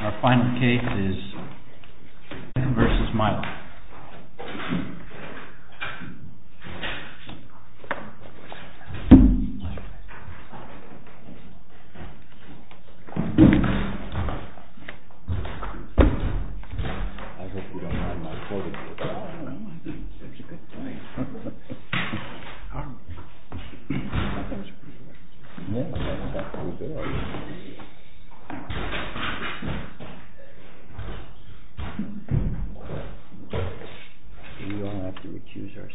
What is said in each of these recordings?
Our final case is Phan v. Mylan. We all have to recuse ourselves.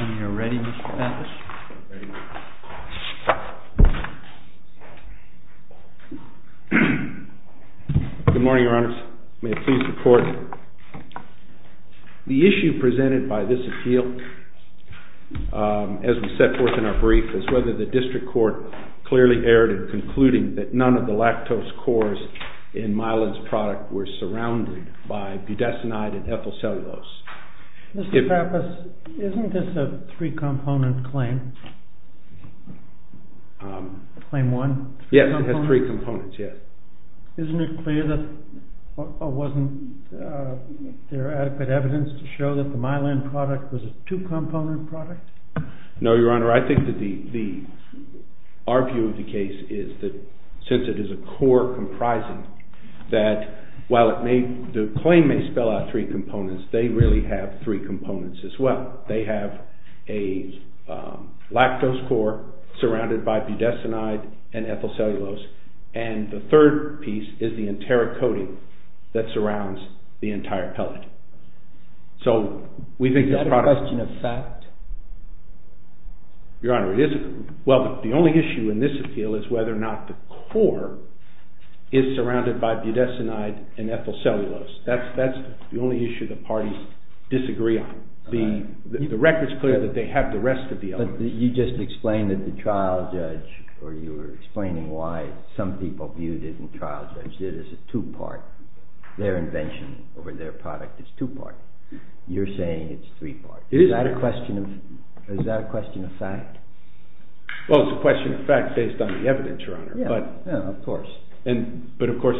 When you're ready, Mr. Pappas. The issue presented by this appeal, as we set forth in our brief, is whether the district court clearly erred in concluding that none of the lactose cores in Mylan's product were surrounded by budesonide and ethyl cellulose. Mr. Pappas, isn't this a three-component claim? Claim one? Yes, it has three components, yes. Isn't it clear that there wasn't adequate evidence to show that the Mylan product was a two-component product? No, Your Honor. I think that our view of the case is that, since it is a core comprising, that while the claim may spell out three components, they really have three components as well. They have a lactose core surrounded by budesonide and ethyl cellulose, and the third piece is the enteric coating that surrounds the entire pellet. Is that a question of fact? Your Honor, it isn't. Well, the only issue in this appeal is whether or not the core is surrounded by budesonide and ethyl cellulose. That's the only issue the parties disagree on. The record's clear that they have the rest of the evidence. But you just explained that the trial judge, or you were explaining why some people viewed it and trial judge it as a two-part. Their invention over their product is two-part. You're saying it's three-part. It is three-part. Is that a question of fact? Well, it's a question of fact based on the evidence, Your Honor. Yeah, of course. But, of course,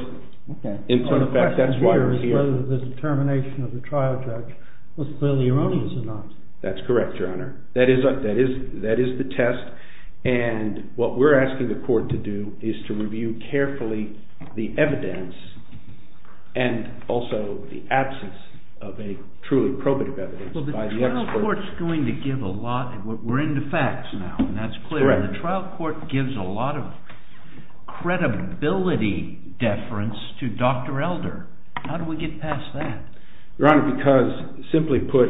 in fact, that's why we're here. The question here is whether the determination of the trial judge was clearly erroneous or not. That's correct, Your Honor. That is the test, and what we're asking the court to do is to review carefully the evidence and also the absence of a truly probative evidence. Well, the trial court's going to give a lot. We're into facts now, and that's clear. Correct. The trial court gives a lot of credibility deference to Dr. Elder. How do we get past that? Your Honor, because, simply put,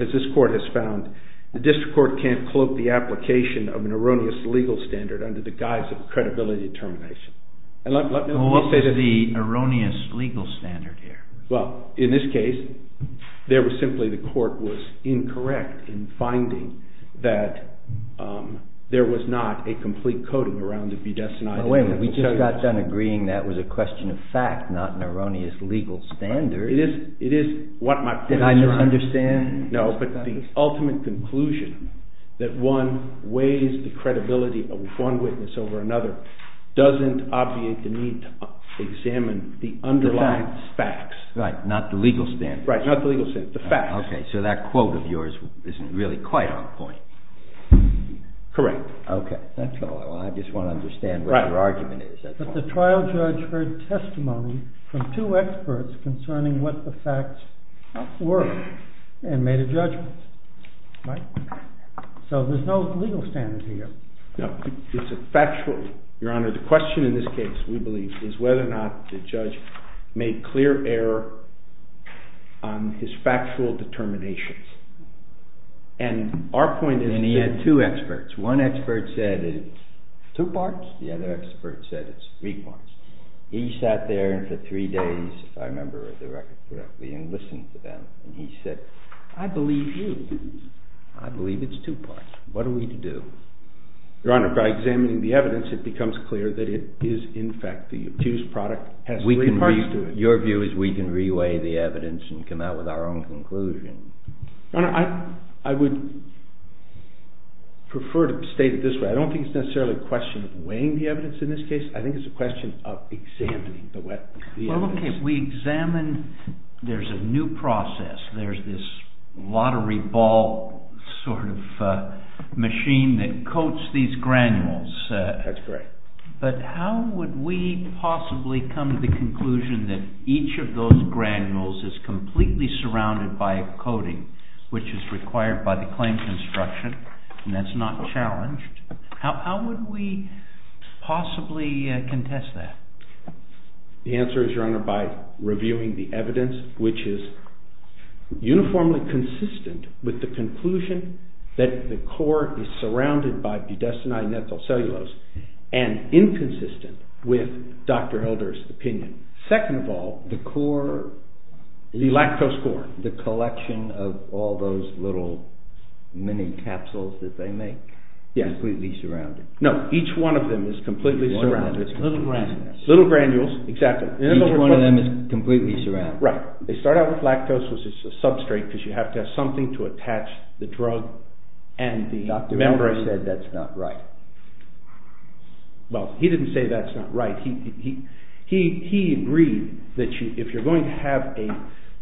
as this court has found, the district court can't cloak the application of an erroneous legal standard under the guise of credibility determination. What is the erroneous legal standard here? Well, in this case, there was simply the court was incorrect in finding that there was not a complete coding around the v-design. Well, wait a minute. We just got done agreeing that was a question of fact, not an erroneous legal standard. It is what my point is, Your Honor. Did I misunderstand? No, but the ultimate conclusion that one weighs the credibility of one witness over another doesn't obviate the need to examine the underlying facts. Right, not the legal standard. Right, not the legal standard, the facts. Okay, so that quote of yours isn't really quite on point. Correct. Okay, that's all. I just want to understand what your argument is at this point. Well, the trial judge heard testimony from two experts concerning what the facts were and made a judgment. Right? So there's no legal standard here. No, it's a factual, Your Honor, the question in this case, we believe, is whether or not the judge made clear error on his factual determinations. And our point is that... And he had two experts. One expert said it's... Two parts. The other expert said it's three parts. He sat there for three days, if I remember the record correctly, and listened to them. And he said, I believe you. I believe it's two parts. What are we to do? Your Honor, by examining the evidence, it becomes clear that it is, in fact, the accused product has three parts to it. Your view is we can re-weigh the evidence and come out with our own conclusion. Your Honor, I would prefer to state it this way. I don't think it's necessarily a question of weighing the evidence in this case. I think it's a question of examining the evidence. Well, okay. We examine. There's a new process. There's this lottery ball sort of machine that coats these granules. That's correct. But how would we possibly come to the conclusion that each of those granules is completely surrounded by a coating, which is required by the claim construction, and that's not challenged? How would we possibly contest that? The answer is, Your Honor, by reviewing the evidence, which is uniformly consistent with the conclusion that the core is surrounded by budesonide and ethyl cellulose and inconsistent with Dr. Hilder's opinion. Second of all, the lactose core. The collection of all those little mini capsules that they make is completely surrounded. No. Each one of them is completely surrounded. Little granules. Little granules. Exactly. Each one of them is completely surrounded. Right. They start out with lactose, which is a substrate, because you have to have something to attach the drug and the membrane. Dr. Hilder said that's not right. Well, he didn't say that's not right. He agreed that if you're going to have a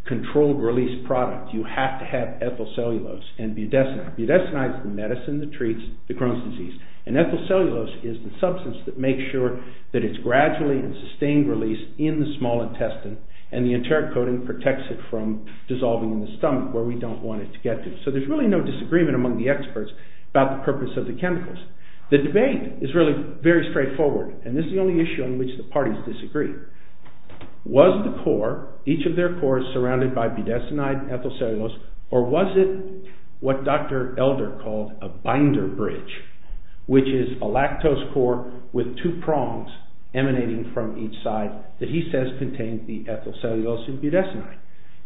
controlled release product, you have to have ethyl cellulose and budesonide. Budesonide is the medicine that treats the Crohn's disease. And ethyl cellulose is the substance that makes sure that it's gradually in sustained release in the small intestine and the enteric coating protects it from dissolving in the stomach where we don't want it to get to. So there's really no disagreement among the experts about the purpose of the chemicals. The debate is really very straightforward. And this is the only issue on which the parties disagree. Was the core, each of their cores, surrounded by budesonide and ethyl cellulose, or was it what Dr. Hilder called a binder bridge, which is a lactose core with two prongs emanating from each side that he says contains the ethyl cellulose and budesonide.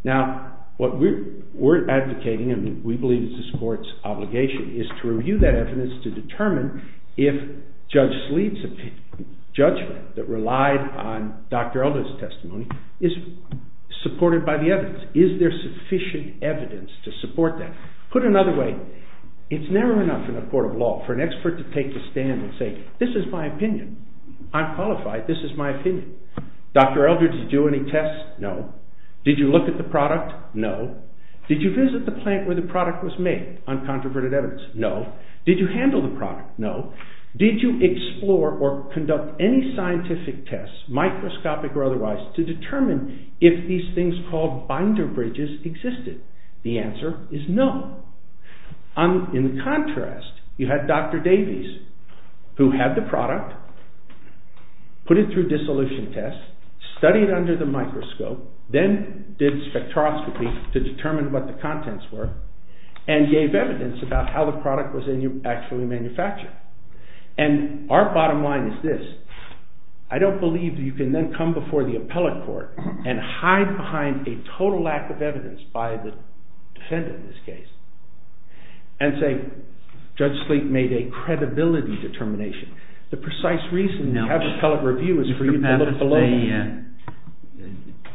Now, what we're advocating, and we believe it's this court's obligation, is to review that evidence to determine if Judge Sleeve's judgment that relied on Dr. Hilder's testimony is supported by the evidence. Is there sufficient evidence to support that? Put another way, it's never enough in a court of law for an expert to take a stand and say, this is my opinion, I'm qualified, this is my opinion. Dr. Hilder, did you do any tests? No. Did you look at the product? No. Did you visit the plant where the product was made on controverted evidence? No. Did you handle the product? No. Did you explore or conduct any scientific tests, microscopic or otherwise, to determine if these things called binder bridges existed? The answer is no. In contrast, you had Dr. Davies, who had the product, put it through dissolution tests, studied under the microscope, then did spectroscopy to determine what the contents were, and gave evidence about how the product was actually manufactured. And our bottom line is this, I don't believe you can then come before the appellate court and hide behind a total lack of evidence by the defendant in this case, and say Judge Sleek made a credibility determination. The precise reason you have appellate review is for you to look below you.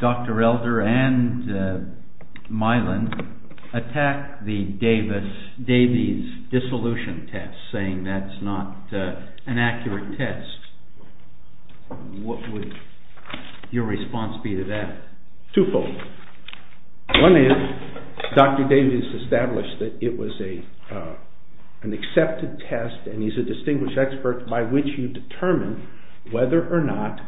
Dr. Hilder and Milan attacked Davies' dissolution test, saying that's not an accurate test. What would your response be to that? Twofold. One is, Dr. Davies established that it was an accepted test, and he's a distinguished expert, by which you determine whether or not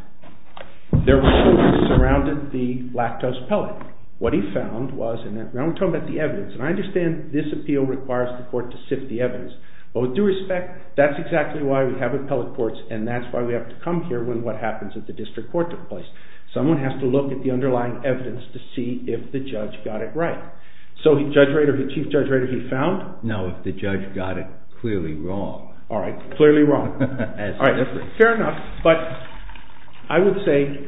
there was something that surrounded the lactose pellet. What he found was, and now we're talking about the evidence, and I understand this appeal requires the court to sift the evidence, but with due respect, that's exactly why we have appellate courts, and that's why we have to come here when what happens at the district court took place. Someone has to look at the underlying evidence to see if the judge got it right. So Judge Rader, the Chief Judge Rader, he found? No, if the judge got it clearly wrong. All right, clearly wrong. Fair enough. But I would say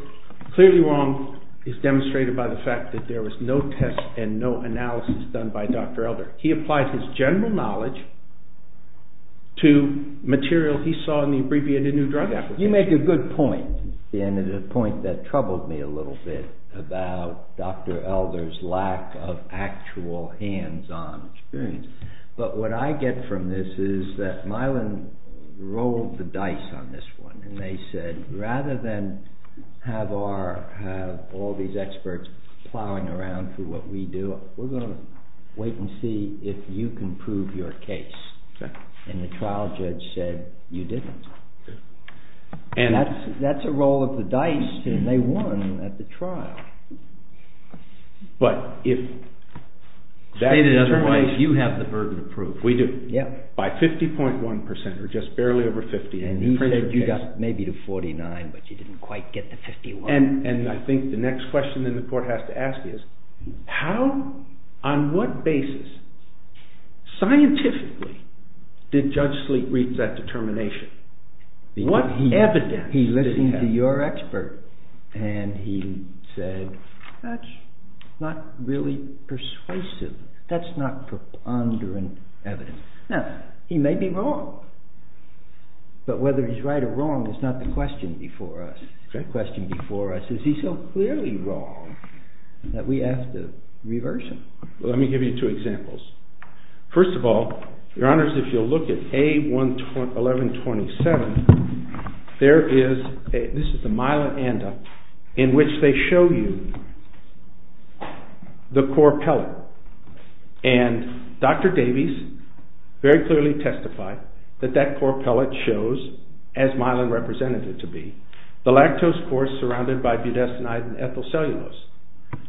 clearly wrong is demonstrated by the fact that there was no test and no analysis done by Dr. Hilder. He applied his general knowledge to material he saw in the abbreviated new drug application. You make a good point, and it's a point that troubled me a little bit about Dr. Hilder's lack of actual hands-on experience. But what I get from this is that Mylan rolled the dice on this one, and they said, rather than have all these experts plowing around through what we do, we're going to wait and see if you can prove your case. And the trial judge said, you didn't. And that's a roll of the dice, and they won at the trial. But if that determination... State it otherwise, you have the burden of proof. We do. By 50.1%, or just barely over 50, and he proved the case. And he said you got maybe to 49, but you didn't quite get to 51. And I think the next question then the court has to ask is, how, on what basis, scientifically, did Judge Sleet reach that determination? What evidence did he have? He listened to your expert, and he said, that's not really persuasive. That's not preponderant evidence. Now, he may be wrong, but whether he's right or wrong is not the question before us. The question before us is, is he so clearly wrong that we ask to reverse him? Let me give you two examples. First of all, Your Honors, if you'll look at A1127, there is a Myla Anda in which they show you the core pellet. And Dr. Davies very clearly testified that that core pellet shows as Myla represented it to be. The lactose cores surrounded by budesonide and ethyl cellulose.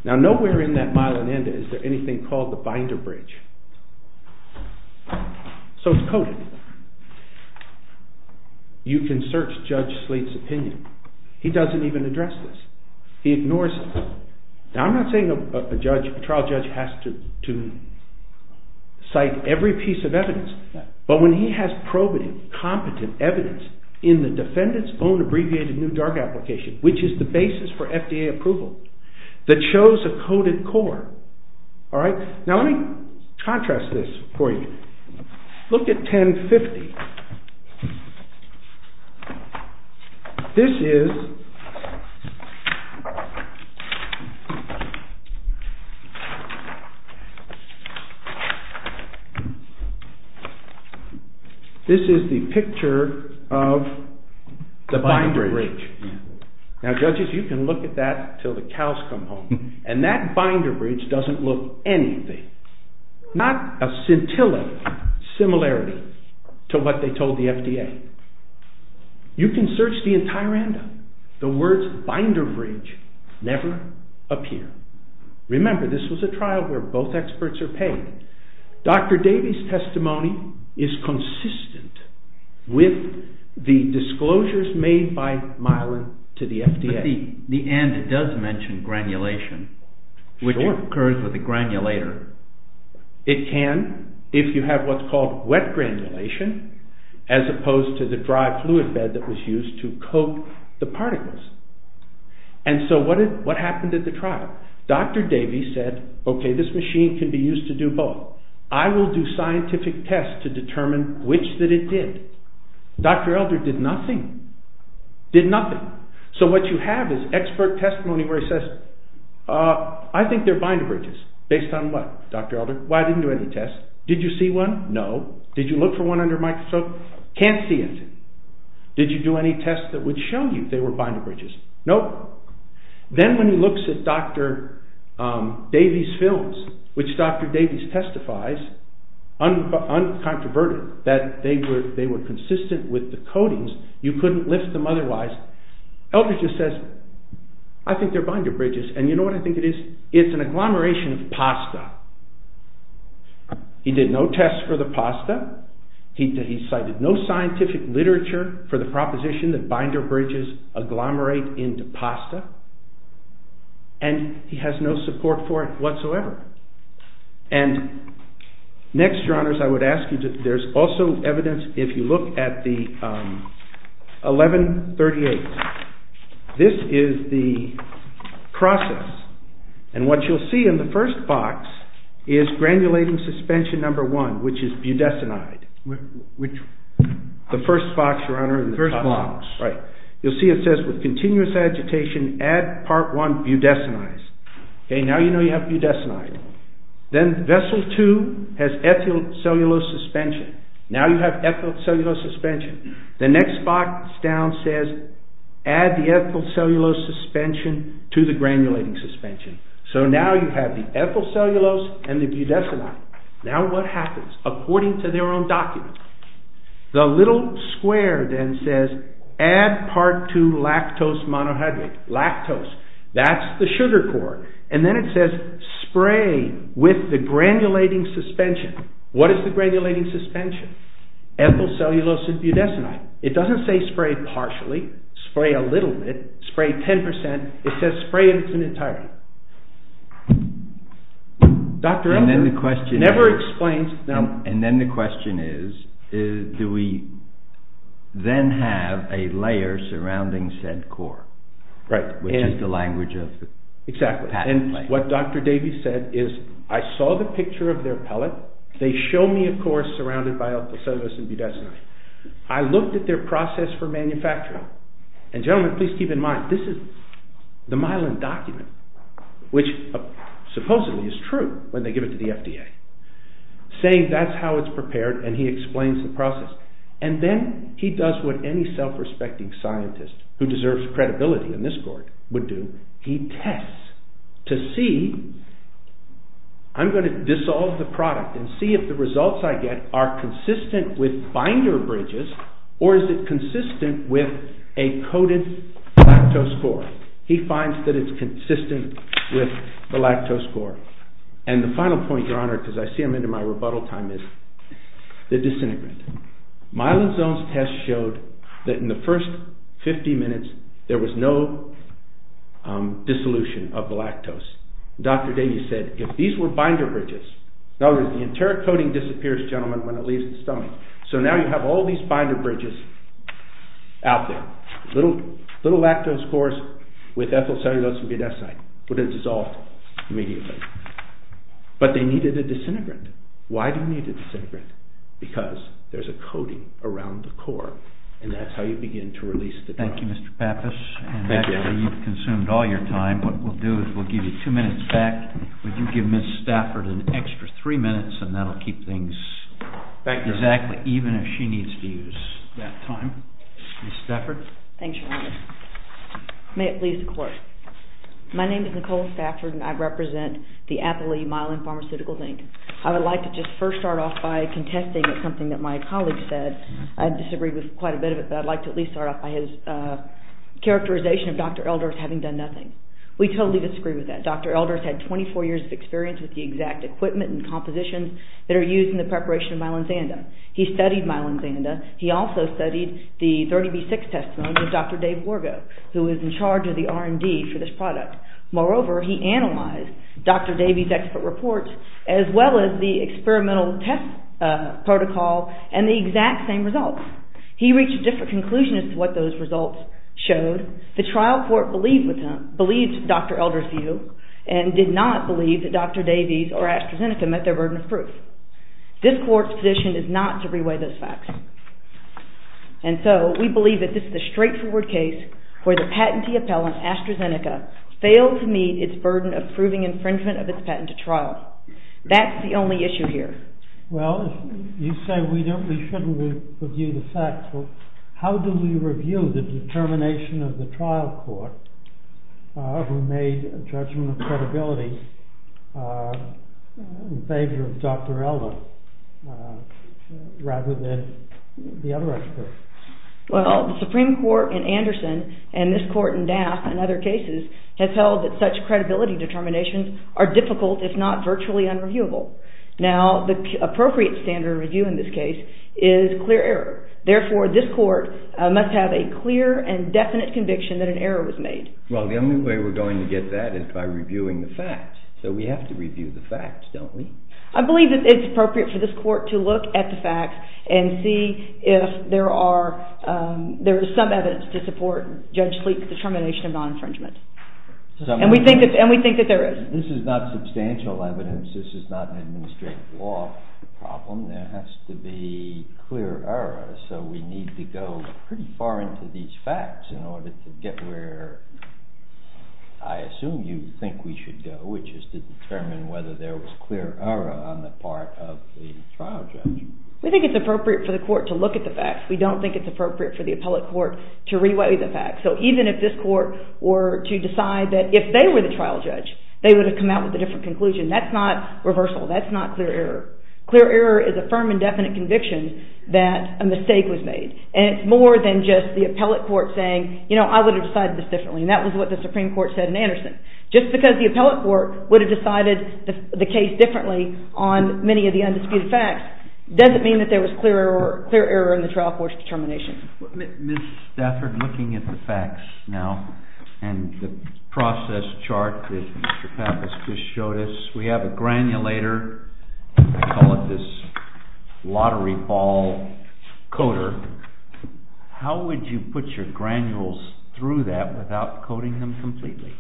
Now, nowhere in that Myla Anda is there anything called the binder bridge. So it's coded. You can search Judge Sleet's opinion. He doesn't even address this. He ignores it. Now, I'm not saying a trial judge has to cite every piece of evidence, but when he has probative, competent evidence in the defendant's own abbreviated new drug application, which is the basis for FDA approval, that shows a coded core. All right? Now, let me contrast this for you. Look at 1050. This is the picture of the binder bridge. Now, judges, you can look at that until the cows come home. And that binder bridge doesn't look anything, not a scintilla similarity to what they told the FDA. You can search the entire Anda. The words binder bridge never appear. Remember, this was a trial where both experts are paid. Dr. Davies' testimony is consistent with the disclosures made by Myla to the FDA. At the end, it does mention granulation, which occurs with a granulator. It can, if you have what's called wet granulation, as opposed to the dry fluid bed that was used to coat the particles. And so what happened at the trial? Dr. Davies said, okay, this machine can be used to do both. I will do scientific tests to determine which that it did. Dr. Elder did nothing. Did nothing. So what you have is expert testimony where he says, I think they're binder bridges. Based on what, Dr. Elder? Well, I didn't do any tests. Did you see one? No. Did you look for one under microscope? Can't see it. Did you do any tests that would show you they were binder bridges? Nope. Then when he looks at Dr. Davies' films, which Dr. Davies testifies, uncontroverted, that they were consistent with the coatings, you couldn't lift them otherwise, Elder just says, I think they're binder bridges. And you know what I think it is? It's an agglomeration of pasta. He did no tests for the pasta. He cited no scientific literature for the proposition that binder bridges agglomerate into pasta. And he has no support for it whatsoever. And next, Your Honors, I would ask you, there's also evidence, if you look at the 1138, this is the process. And what you'll see in the first box is granulating suspension number one, which is budesonide. The first box, Your Honor. The first box. Right. You'll see it says, with continuous agitation, add part one budesonide. Okay, now you know you have budesonide. Then vessel two has ethylcellulose suspension. Now you have ethylcellulose suspension. The next box down says, add the ethylcellulose suspension to the granulating suspension. So now you have the ethylcellulose and the budesonide. Now what happens? According to their own document. The little square then says, add part two lactose monohydrate. Lactose. That's the sugar core. And then it says, spray with the granulating suspension. What is the granulating suspension? Ethylcellulose and budesonide. It doesn't say spray partially. Spray a little bit. Spray 10%. It says spray in its entirety. Dr. Elder never explains. And then the question is, do we then have a layer surrounding said core? Right. Exactly. And what Dr. Davies said is, I saw the picture of their pellet. They show me a core surrounded by ethylcellulose and budesonide. I looked at their process for manufacturing. And gentlemen, please keep in mind, this is the Mylan document, which supposedly is true when they give it to the FDA. Saying that's how it's prepared and he explains the process. And then he does what any self-respecting scientist who deserves credibility in this court would do. He tests to see, I'm going to dissolve the product and see if the results I get are consistent with binder bridges or is it consistent with a coated lactose core. He finds that it's consistent with the lactose core. And the final point, Your Honor, because I see I'm into my rebuttal time, is the disintegrant. Mylan Zone's test showed that in the first 50 minutes there was no dissolution of the lactose. Dr. Davies said, if these were binder bridges, in other words, the entire coating disappears, gentlemen, when it leaves the stomach. So now you have all these binder bridges out there. Little lactose cores with ethylcellulose and budesonide would have dissolved immediately. But they needed a disintegrant. Why do you need a disintegrant? Because there's a coating around the core and that's how you begin to release the drug. Thank you, Mr. Pappas. And after you've consumed all your time, what we'll do is we'll give you 2 minutes back. Would you give Ms. Stafford an extra 3 minutes and that'll keep things exactly even if she needs to use that time. Ms. Stafford. Thanks, Your Honor. May it please the Court. My name is Nicole Stafford and I represent the Athol-E Mylan Pharmaceuticals, Inc. I would like to just first start off by contesting something that my colleague said. I disagreed with quite a bit of it, but I'd like to at least start off by his characterization of Dr. Elders having done nothing. We totally disagree with that. Dr. Elders had 24 years of experience with the exact equipment and compositions that are used in the preparation of Mylan Xanda. He studied Mylan Xanda. He also studied the 30B6 testimony of Dr. Dave Wargo, who is in charge of the R&D for this product. Moreover, he analyzed Dr. Davey's expert reports as well as the experimental test protocol and the exact same results. He reached a different conclusion as to what those results showed. The trial court believed Dr. Elders' view and did not believe that Dr. Davey's or AstraZeneca met their burden of proof. This Court's position is not to reweigh those facts. And so we believe that this is a straightforward case where the patentee appellant, AstraZeneca, failed to meet its burden of proving infringement of its patent at trial. That's the only issue here. Well, you say we shouldn't review the facts. How do we review the determination of the trial court who made a judgment of credibility in favor of Dr. Elder rather than the other experts? Well, the Supreme Court in Anderson and this Court in Daft and other cases have held that such credibility determinations are difficult if not virtually unreviewable. Now, the appropriate standard of review in this case is clear error. Therefore, this Court must have a clear and definite conviction that an error was made. Well, the only way we're going to get that is by reviewing the facts. So we have to review the facts, don't we? I believe that it's appropriate for this Court to look at the facts and see if there is some evidence to support Judge Cleek's determination of non-infringement. And we think that there is. This is not substantial evidence. This is not an administrative law problem. There has to be clear error. So we need to go pretty far into these facts in order to get where I assume you think we should go, which is to determine whether there was clear error on the part of the trial judge. We think it's appropriate for the Court to look at the facts. We don't think it's appropriate for the appellate court to reweigh the facts. So even if this Court were to decide that if they were the trial judge, they would have come out with a different conclusion. That's not reversal. That's not clear error. Clear error is a firm and definite conviction that a mistake was made. And it's more than just the appellate court saying, you know, I would have decided this differently. And that was what the Supreme Court said in Anderson. Just because the appellate court would have decided the case differently on many of the undisputed facts doesn't mean that there was clear error in the trial court's determination. Ms. Stafford, looking at the facts now and the process chart that Mr. Pappas just showed us, we have a granulator. I call it this lottery ball coder. How would you put your granules through that without coding them completely?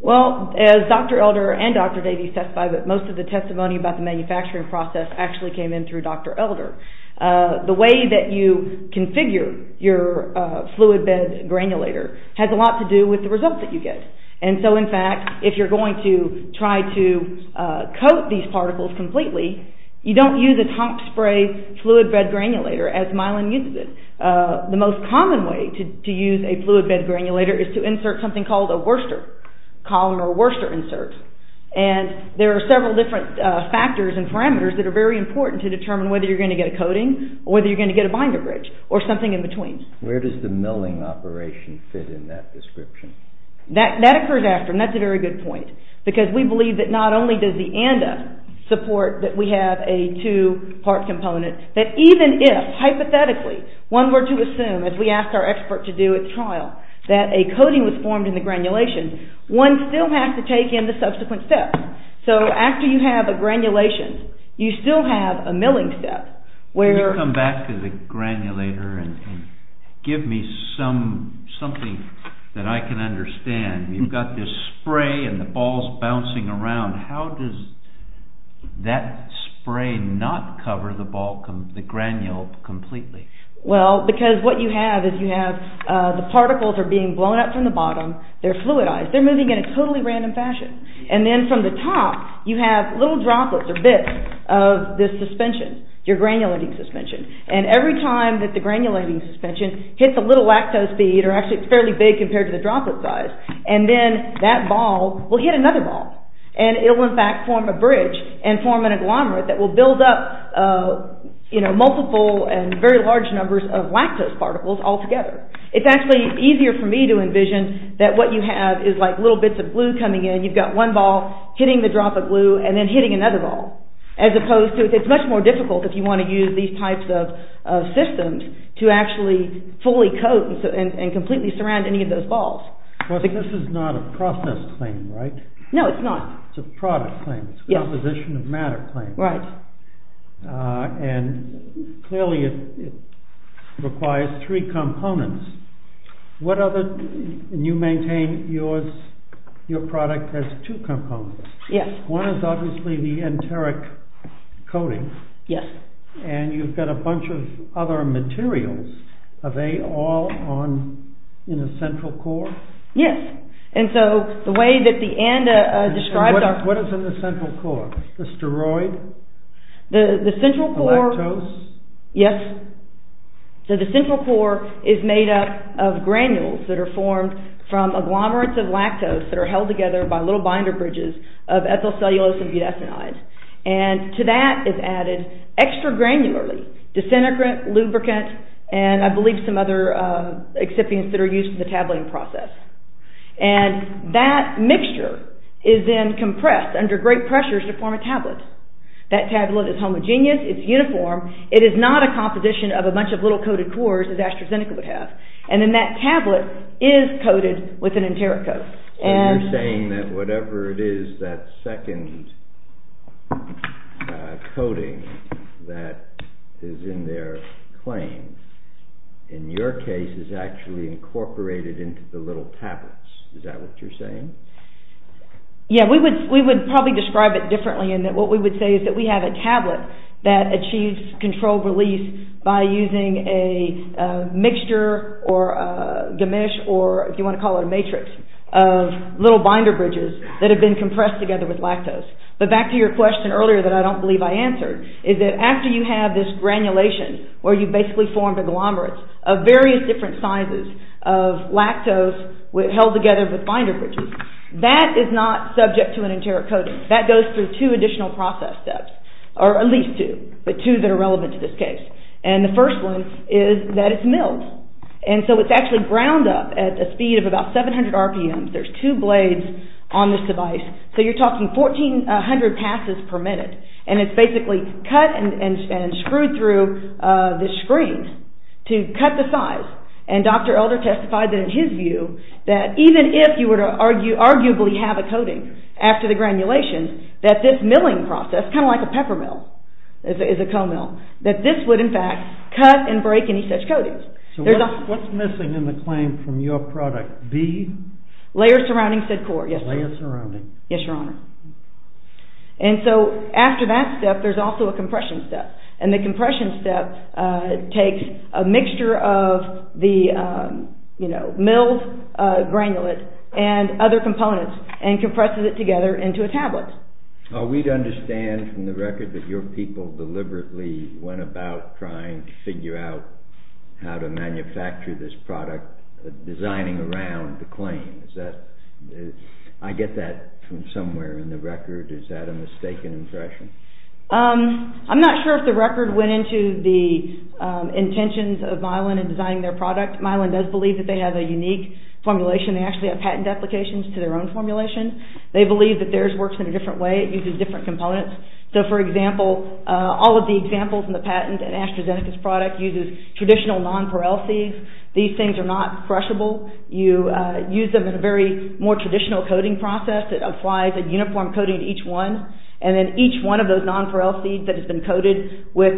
Well, as Dr. Elder and Dr. Davies testified, most of the testimony about the manufacturing process actually came in through Dr. Elder. The way that you configure your fluid bed granulator has a lot to do with the results that you get. And so, in fact, if you're going to try to coat these particles completely, you don't use a top spray fluid bed granulator as Mylan uses it. The most common way to use a fluid bed granulator is to insert something called a Worcester, columnar Worcester insert. And there are several different factors and parameters that are very important to determine whether you're going to get a coating or whether you're going to get a binder bridge or something in between. Where does the milling operation fit in that description? That occurs after, and that's a very good point. Because we believe that not only does the ANDA support that we have a two-part component, that even if, hypothetically, one were to assume, as we asked our expert to do at trial, that a coating was formed in the granulation, one still has to take in the subsequent steps. So after you have a granulation, you still have a milling step where... Could you come back to the granulator and give me something that I can understand? You've got this spray and the ball's bouncing around. How does that spray not cover the ball, the granule, completely? Well, because what you have is you have the particles are being blown up from the bottom. They're fluidized. They're moving in a totally random fashion. And then from the top, you have little droplets or bits of this suspension, your granulating suspension. And every time that the granulating suspension hits a little lactose bead, or actually it's fairly big compared to the droplet size, and then that ball will hit another ball. And it'll, in fact, form a bridge and form an agglomerate that will build up multiple and very large numbers of lactose particles altogether. It's actually easier for me to envision that what you have is like little bits of glue coming in. You've got one ball hitting the droplet glue and then hitting another ball. As opposed to, it's much more difficult if you want to use these types of systems to actually fully coat and completely surround any of those balls. Well, this is not a process claim, right? No, it's not. It's a product claim. It's a composition of matter claim. Right. And clearly it requires three components. What other, and you maintain your product has two components. Yes. One is obviously the enteric coating. Yes. And you've got a bunch of other materials. Are they all in a central core? Yes. And so the way that the and describes are... What is in the central core? The steroid? The central core... The lactose? Yes. So the central core is made up of granules that are formed from agglomerates of lactose that are held together by little binder bridges of ethyl cellulose and butadenide. And to that is added extra granularly disintegrate, lubricant, and I believe some other excipients that are used in the tabling process. And that mixture is then compressed under great pressures to form a tablet. That tablet is homogeneous. It's uniform. It is not a composition of a bunch of little coated cores as AstraZeneca would have. And then that tablet is coated with an enteric coat. So you're saying that whatever it is that second coating that is in their claim in your case is actually incorporated into the little tablets. Is that what you're saying? Yes. We would probably describe it differently in that what we would say is that we have a tablet that achieves controlled release by using a mixture or a gamish or if you want to call it a matrix of little binder bridges that have been compressed together with lactose. But back to your question earlier that I don't believe I answered, is that after you have this granulation where you've basically formed a glomerulus of various different sizes of lactose held together with binder bridges, that is not subject to an enteric coating. That goes through two additional process steps or at least two, but two that are relevant to this case. And the first one is that it's milled. And so it's actually ground up at a speed of about 700 rpm. There's two blades on this device. So you're talking 1400 passes per minute. And it's basically cut and screwed through this screen to cut the size. And Dr. Elder testified that in his view that even if you were to arguably have a coating after the granulation, that this milling process, kind of like a pepper mill is a co-mill, that this would in fact cut and break any such coatings. So what's missing in the claim from your product? B? Layer surrounding said core. Layer surrounding. Yes, Your Honor. And so after that step, there's also a compression step. And the compression step takes a mixture of the milled granulate and other components and compresses it together into a tablet. We'd understand from the record that your people deliberately went about trying to figure out how to manufacture this product, designing around the claim. I get that from somewhere in the record. Is that a mistaken impression? I'm not sure if the record went into the intentions of Milan in designing their product. Milan does believe that they have a unique formulation. They actually have patent applications to their own formulation. They believe that theirs works in a different way. It uses different components. So for example, all of the examples in the patent in AstraZeneca's product uses traditional nonpareil seeds. These things are not crushable. You use them in a very more traditional coating process. It applies a uniform coating to each one. And then each one of those nonpareil seeds that has been coated with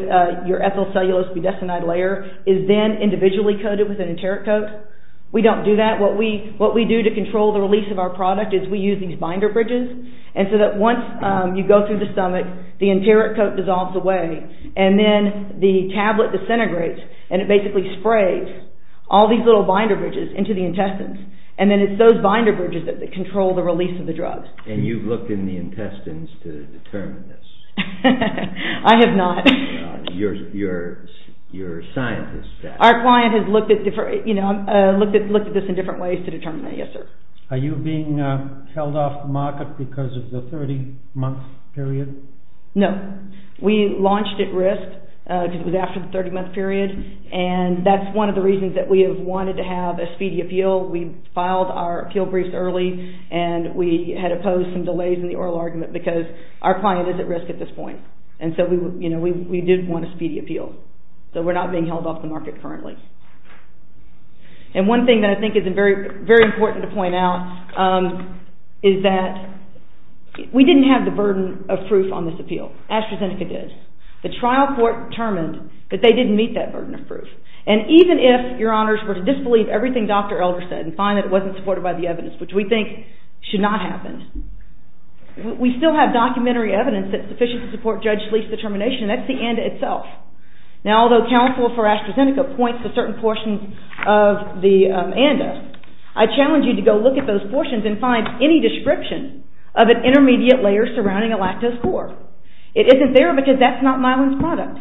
your ethyl cellulose budesonide layer is then individually coated with an enteric coat. We don't do that. What we do to control the release of our product is we use these binder bridges. And so that once you go through the stomach, the enteric coat dissolves away. And then the tablet disintegrates and it basically sprays all these little binder bridges into the intestines. And then it's those binder bridges that control the release of the drugs. And you've looked in the intestines to determine this? I have not. You're a scientist. Our client has looked at this in different ways to determine that, yes sir. Are you being held off the market because of the 30 month period? No. We launched at risk because it was after the 30 month period. And that's one of the reasons that we have wanted to have a speedy appeal. We filed our appeal briefs early and we had opposed some delays in the oral argument because our client is at risk at this point. And so we did want a speedy appeal. So we're not being held off the market currently. And one thing that I think is very important to point out is that we didn't have the burden of proof on this appeal. AstraZeneca did. The trial court determined that they didn't meet that burden of proof. And even if your honors were to disbelieve everything Dr. Elder said and find that it wasn't supported by the evidence, which we think should not happen, we still have documentary evidence that's sufficient to support Judge Schlieff's determination and that's the ANDA itself. Now although counsel for AstraZeneca points to certain portions of the ANDA, I challenge you to go look at those portions and find any description of an intermediate layer surrounding a lactose core. It isn't there because that's not Myelin's product.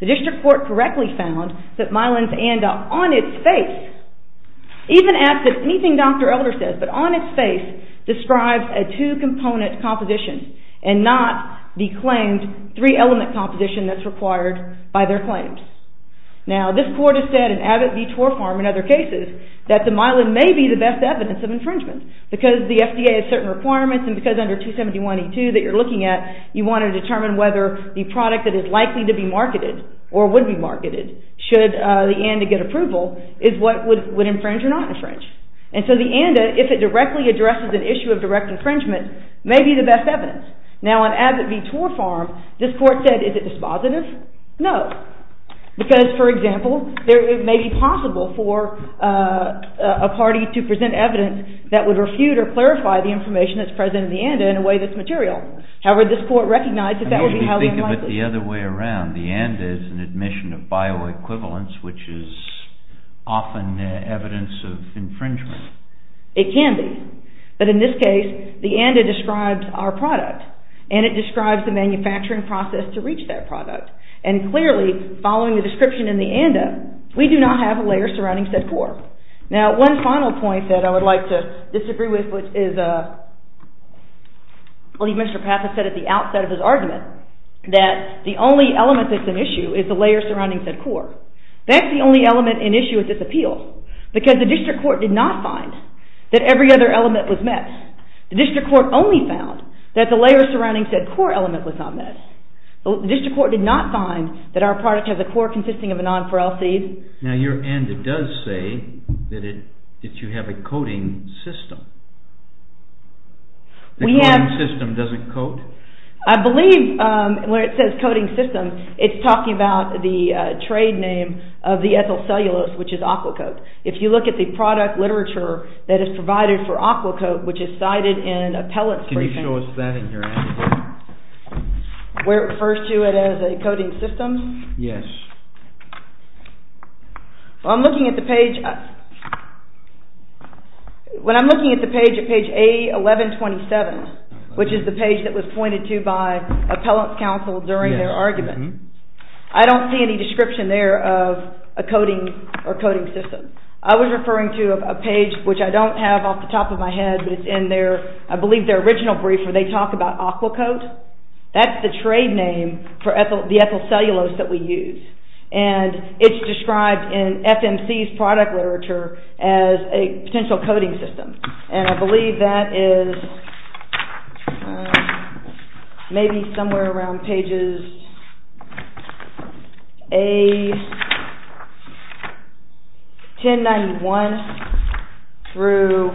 The district court correctly found that Myelin's ANDA, on its face, even at anything Dr. Elder says, but on its face, describes a two-component composition and not the claimed three-element composition that's required by their claims. Now this court has said, and Abbott v. Torfarm and other cases, that the Myelin may be the best evidence of infringement because the FDA has certain requirements and because under 271E2 that you're looking at, you want to determine whether the product that is likely to be marketed or would be marketed should the ANDA get approval is what would infringe or not infringe. And so the ANDA, if it directly addresses an issue of direct infringement, may be the best evidence. Now on Abbott v. Torfarm, is it dispositive? No. Because, for example, it may be possible for a party to present evidence that would refute or clarify the information that's present in the ANDA in a way that's material. However, this court recognized that that would be highly unlikely. I mean, if you think of it the other way around, the ANDA is an admission of bioequivalence which is often evidence of infringement. It can be. But in this case, the ANDA describes our product and it describes the manufacturing process to reach that product. And clearly, following the description in the ANDA, we do not have a layer surrounding said core. Now, one final point that I would like to disagree with, which is, I believe Mr. Paffa said at the outset of his argument that the only element that's an issue is the layer surrounding said core. That's the only element in issue with this appeal because the district court did not find that every other element was met. The district court only found that the layer surrounding said core element was not met. The district court did not find that our product has a core consisting of a nonpareil seed. Now, your ANDA does say that you have a coating system. The coating system doesn't coat? I believe when it says coating system, it's talking about the trade name of the ethyl cellulose, which is Aquacoat. If you look at the product literature that is provided for Aquacoat, which is cited in appellate... Can you show us that in your ANDA? Where it refers to it as a coating system? Yes. I'm looking at the page... When I'm looking at the page, at page A1127, which is the page that was pointed to by appellate counsel during their argument, I don't see any description there of a coating or coating system. I was referring to a page which I don't have off the top of my head, but it's in their... I believe their original brief where they talk about Aquacoat. That's the trade name for the ethyl cellulose that we use. It's described in FMC's product literature as a potential coating system. I believe that is maybe somewhere around pages A1091 through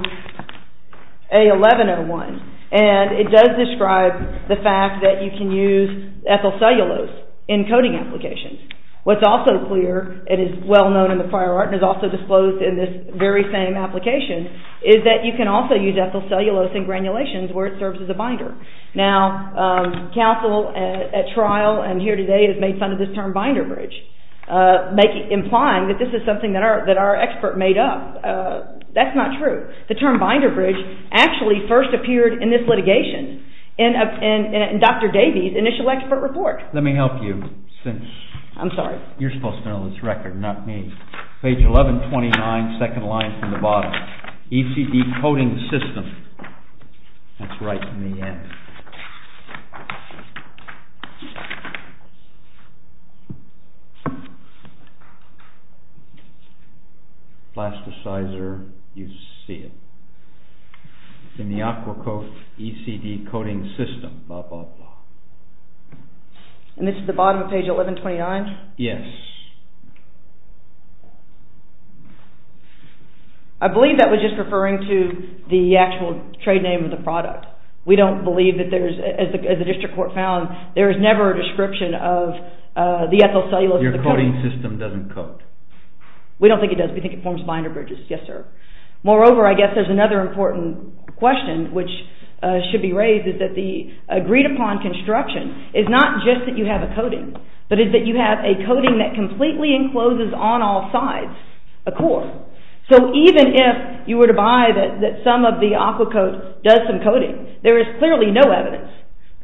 A1101. It does describe the fact that you can use ethyl cellulose in coating applications. What's also clear, it is well known in the prior art and is also disclosed in this very same application, is that you can also use ethyl cellulose in granulations where it serves as a binder. Now, counsel at trial and here today has made fun of this term binder bridge, implying that this is something that our expert made up. That's not true. The term binder bridge actually first appeared in this litigation in Dr. Davey's initial expert report. Let me help you. I'm sorry. You're supposed to know this record, not me. Page 1129, second line from the bottom. ECD coating system. That's right in the end. Plasticizer. In the aqua coat, ECD coating system. Blah blah blah. And this is the bottom of page 1129? Yes. I believe that was just referring to the actual trade name of the product. We don't believe that there is, as the district court found, there is never a description of the ethyl cellulose. Your coating system doesn't coat. We don't think it does. We think it forms binder bridges. Yes, sir. Moreover, I guess there's another important question which should be raised, is that the agreed upon construction is not just that you have a coating, but is that you have a coating that completely encloses on all sides a core. So even if you were to buy that some of the aqua coat does some coating, there is clearly no evidence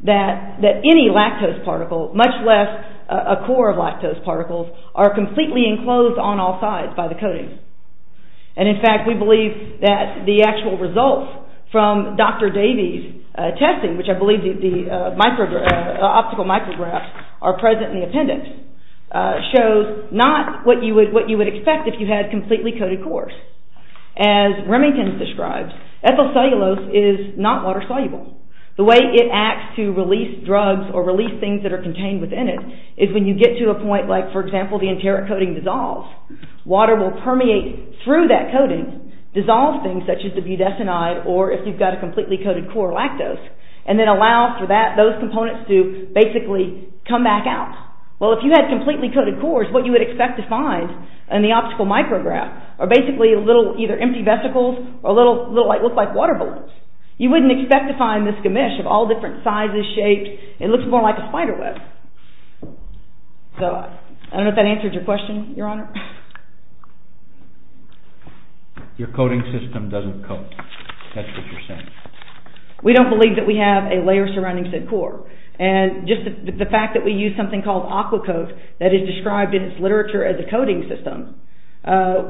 that any lactose particle, much less a core of lactose particles, are completely enclosed on all sides by the coating. And in fact, we believe that the actual results from Dr. Davies' testing, which I believe the optical micrographs are present in the appendix, shows not what you would expect if you had completely coated cores. As Remington describes, ethyl cellulose is not water-soluble. The way it acts to release drugs or release things that are contained within it is when you get to a point like, for example, the enteric coating dissolves, water will permeate through that coating, dissolve things such as the budesonide or, if you've got a completely coated core, the lactose, and then allow for those components to basically come back out. Well, if you had completely coated cores, what you would expect to find in the optical micrograph are basically little, either empty vesicles or little, what look like water balloons. You wouldn't expect to find this gamish of all different sizes, shapes. It looks more like a spiderweb. So, I don't know if that answers your question, Your Honor. Your coating system doesn't coat. That's what you're saying. We don't believe that we have a layer surrounding said core. And just the fact that we use something called aqua coat that is described in its literature as a coating system,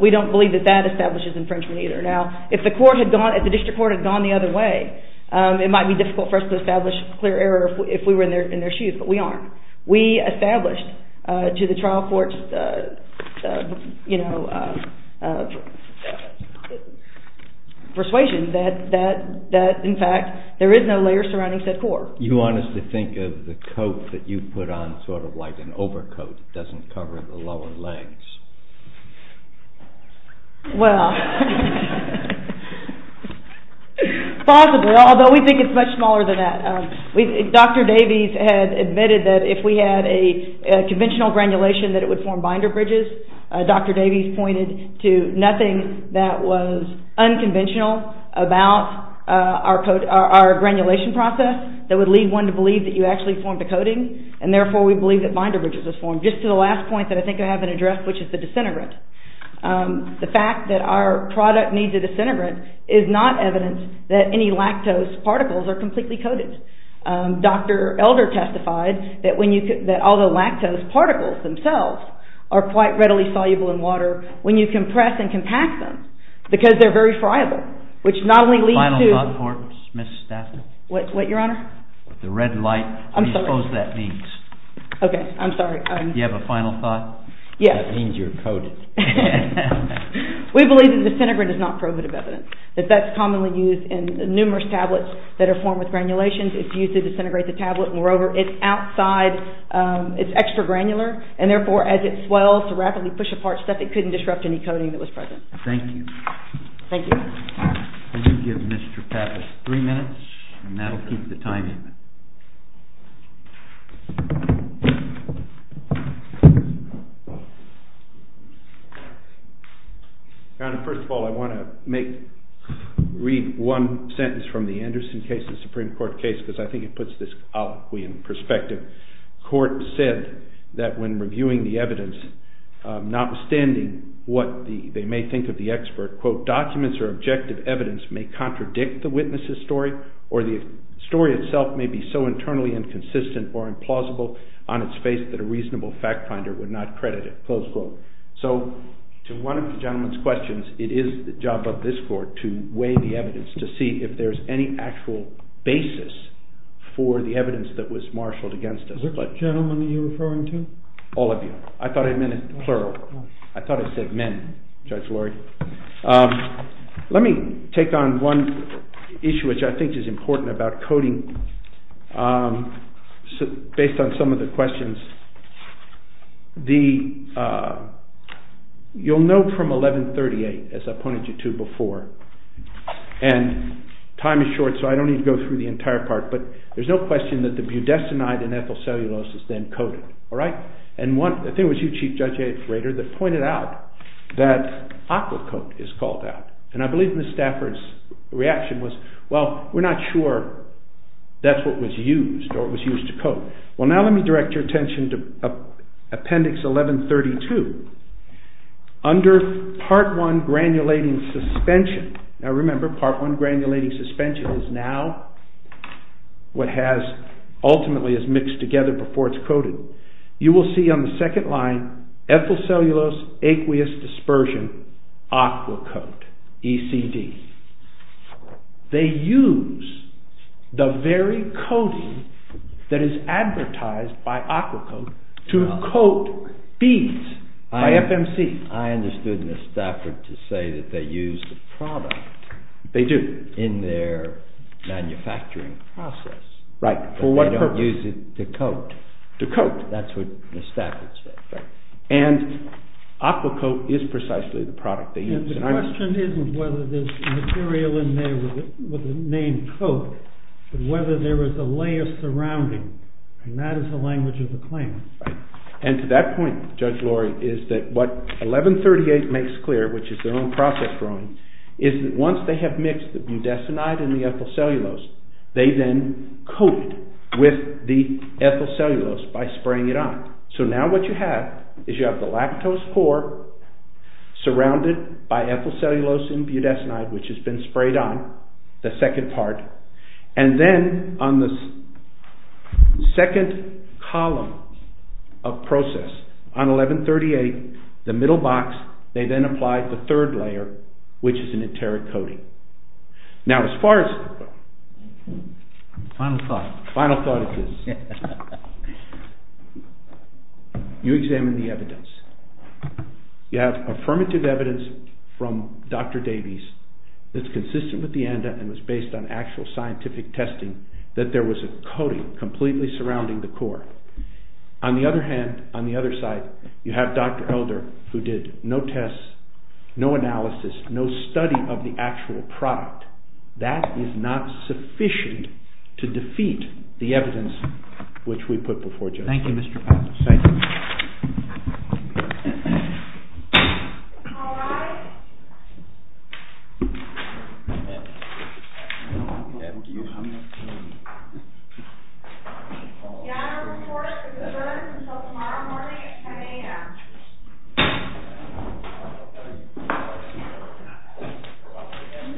we don't believe that that establishes infringement either. Now, if the court had gone, if the district court had gone the other way, it might be difficult for us to establish clear error if we were in their shoes, but we aren't. We established to the trial courts, you know, persuasion that, in fact, there is no layer surrounding said core. You want us to think of the coat that you put on sort of like an overcoat that doesn't cover the lower legs. Well, possibly, although we think it's much smaller than that. Dr. Davies had admitted that if we had a conventional granulation that it would form binder bridges. Dr. Davies pointed to nothing that was unconventional about our granulation process that would lead one to believe that you actually formed a coating, and therefore we believe that binder bridges was formed. Just to the last point that I think I haven't addressed, which is the disintegrant. The fact that our product needs a disintegrant is not evidence that any lactose particles are completely coated. Dr. Elder testified that all the lactose particles themselves are quite readily soluble in water when you compress and compact them because they're very friable, which not only leads to... Final thoughts, Ms. Stafford? What, Your Honor? The red light. I'm sorry. What do you suppose that means? Okay, I'm sorry. Do you have a final thought? Yes. It means you're coated. We believe that disintegrant is not probative evidence, that that's commonly used in numerous tablets that are formed with granulations. It's used to disintegrate the tablet. Moreover, it's outside. It's extra granular, and therefore as it swells to rapidly push apart stuff, it couldn't disrupt any coating that was present. Thank you. Thank you. Could you give Mr. Pappas three minutes, and that'll keep the timing. Your Honor, first of all, I want to make... read one sentence from the Anderson case, the Supreme Court case, because I think it puts this colloquy in perspective. The court said that when reviewing the evidence, notwithstanding what they may think of the expert, quote, documents or objective evidence may contradict the witness's story, or the story itself may be so internally inconsistent or implausible on its face that a reasonable fact finder would not credit it, close quote. So to one of the gentleman's questions, it is the job of this court to weigh the evidence to see if there's any actual basis for the evidence that was marshaled against us. What gentleman are you referring to? All of you. I thought I meant it plural. I thought I said men, Judge Laurie. Let me take on one issue which I think is important about coding based on some of the questions. You'll know from 1138, as I pointed you to before, and time is short so I don't need to go through the entire part, but there's no question that the budesonide and ethyl cellulose is then coded, all right? And I think it was you, Chief Judge Rader, that pointed out that aqua coat is called out. And I believe Ms. Stafford's reaction was, well, we're not sure that's what was used or what was used to coat. Well, now let me direct your attention to appendix 1132. granulating suspension, now remember part one granulating suspension is now what has ultimately is mixed together before it's coded. In appendix 1132, you will see on the second line ethyl cellulose aqueous dispersion aqua coat, ECD. They use the very coating that is advertised by aqua coat to coat beads by FMC. I understood Ms. Stafford to say that they use the product in their manufacturing process. Right. But they don't use it to coat. To coat. That's what Ms. Stafford said. Right. And aqua coat is precisely the product they use. And the question isn't whether there's material in there with the name coat, but whether there is a layer surrounding. And that is the language of the claim. Right. And to that point, Judge Lori, is that what 1138 makes clear, which is their own process drawing, is that once they have mixed the budesonide and the ethyl cellulose, they then coat it with the ethyl cellulose by spraying it on. So now what you have is you have the lactose core surrounded by ethyl cellulose and budesonide, which has been sprayed on, the second part. And then on the second column of process, on 1138, the middle box, they then apply the third layer, which is an interic coating. Now as far as... Final thought. Final thought it is. You examine the evidence. You have affirmative evidence from Dr. Davies that's consistent with the ANDA and was based on actual scientific testing that there was a coating completely surrounding the core. On the other hand, on the other side, you have Dr. Elder, who did no tests, no analysis, no study of the actual product. That is not sufficient to defeat the evidence which we put before you. Thank you, Mr. Patterson. Thank you. The honor report is adjourned until tomorrow morning at 10 a.m. Thank you.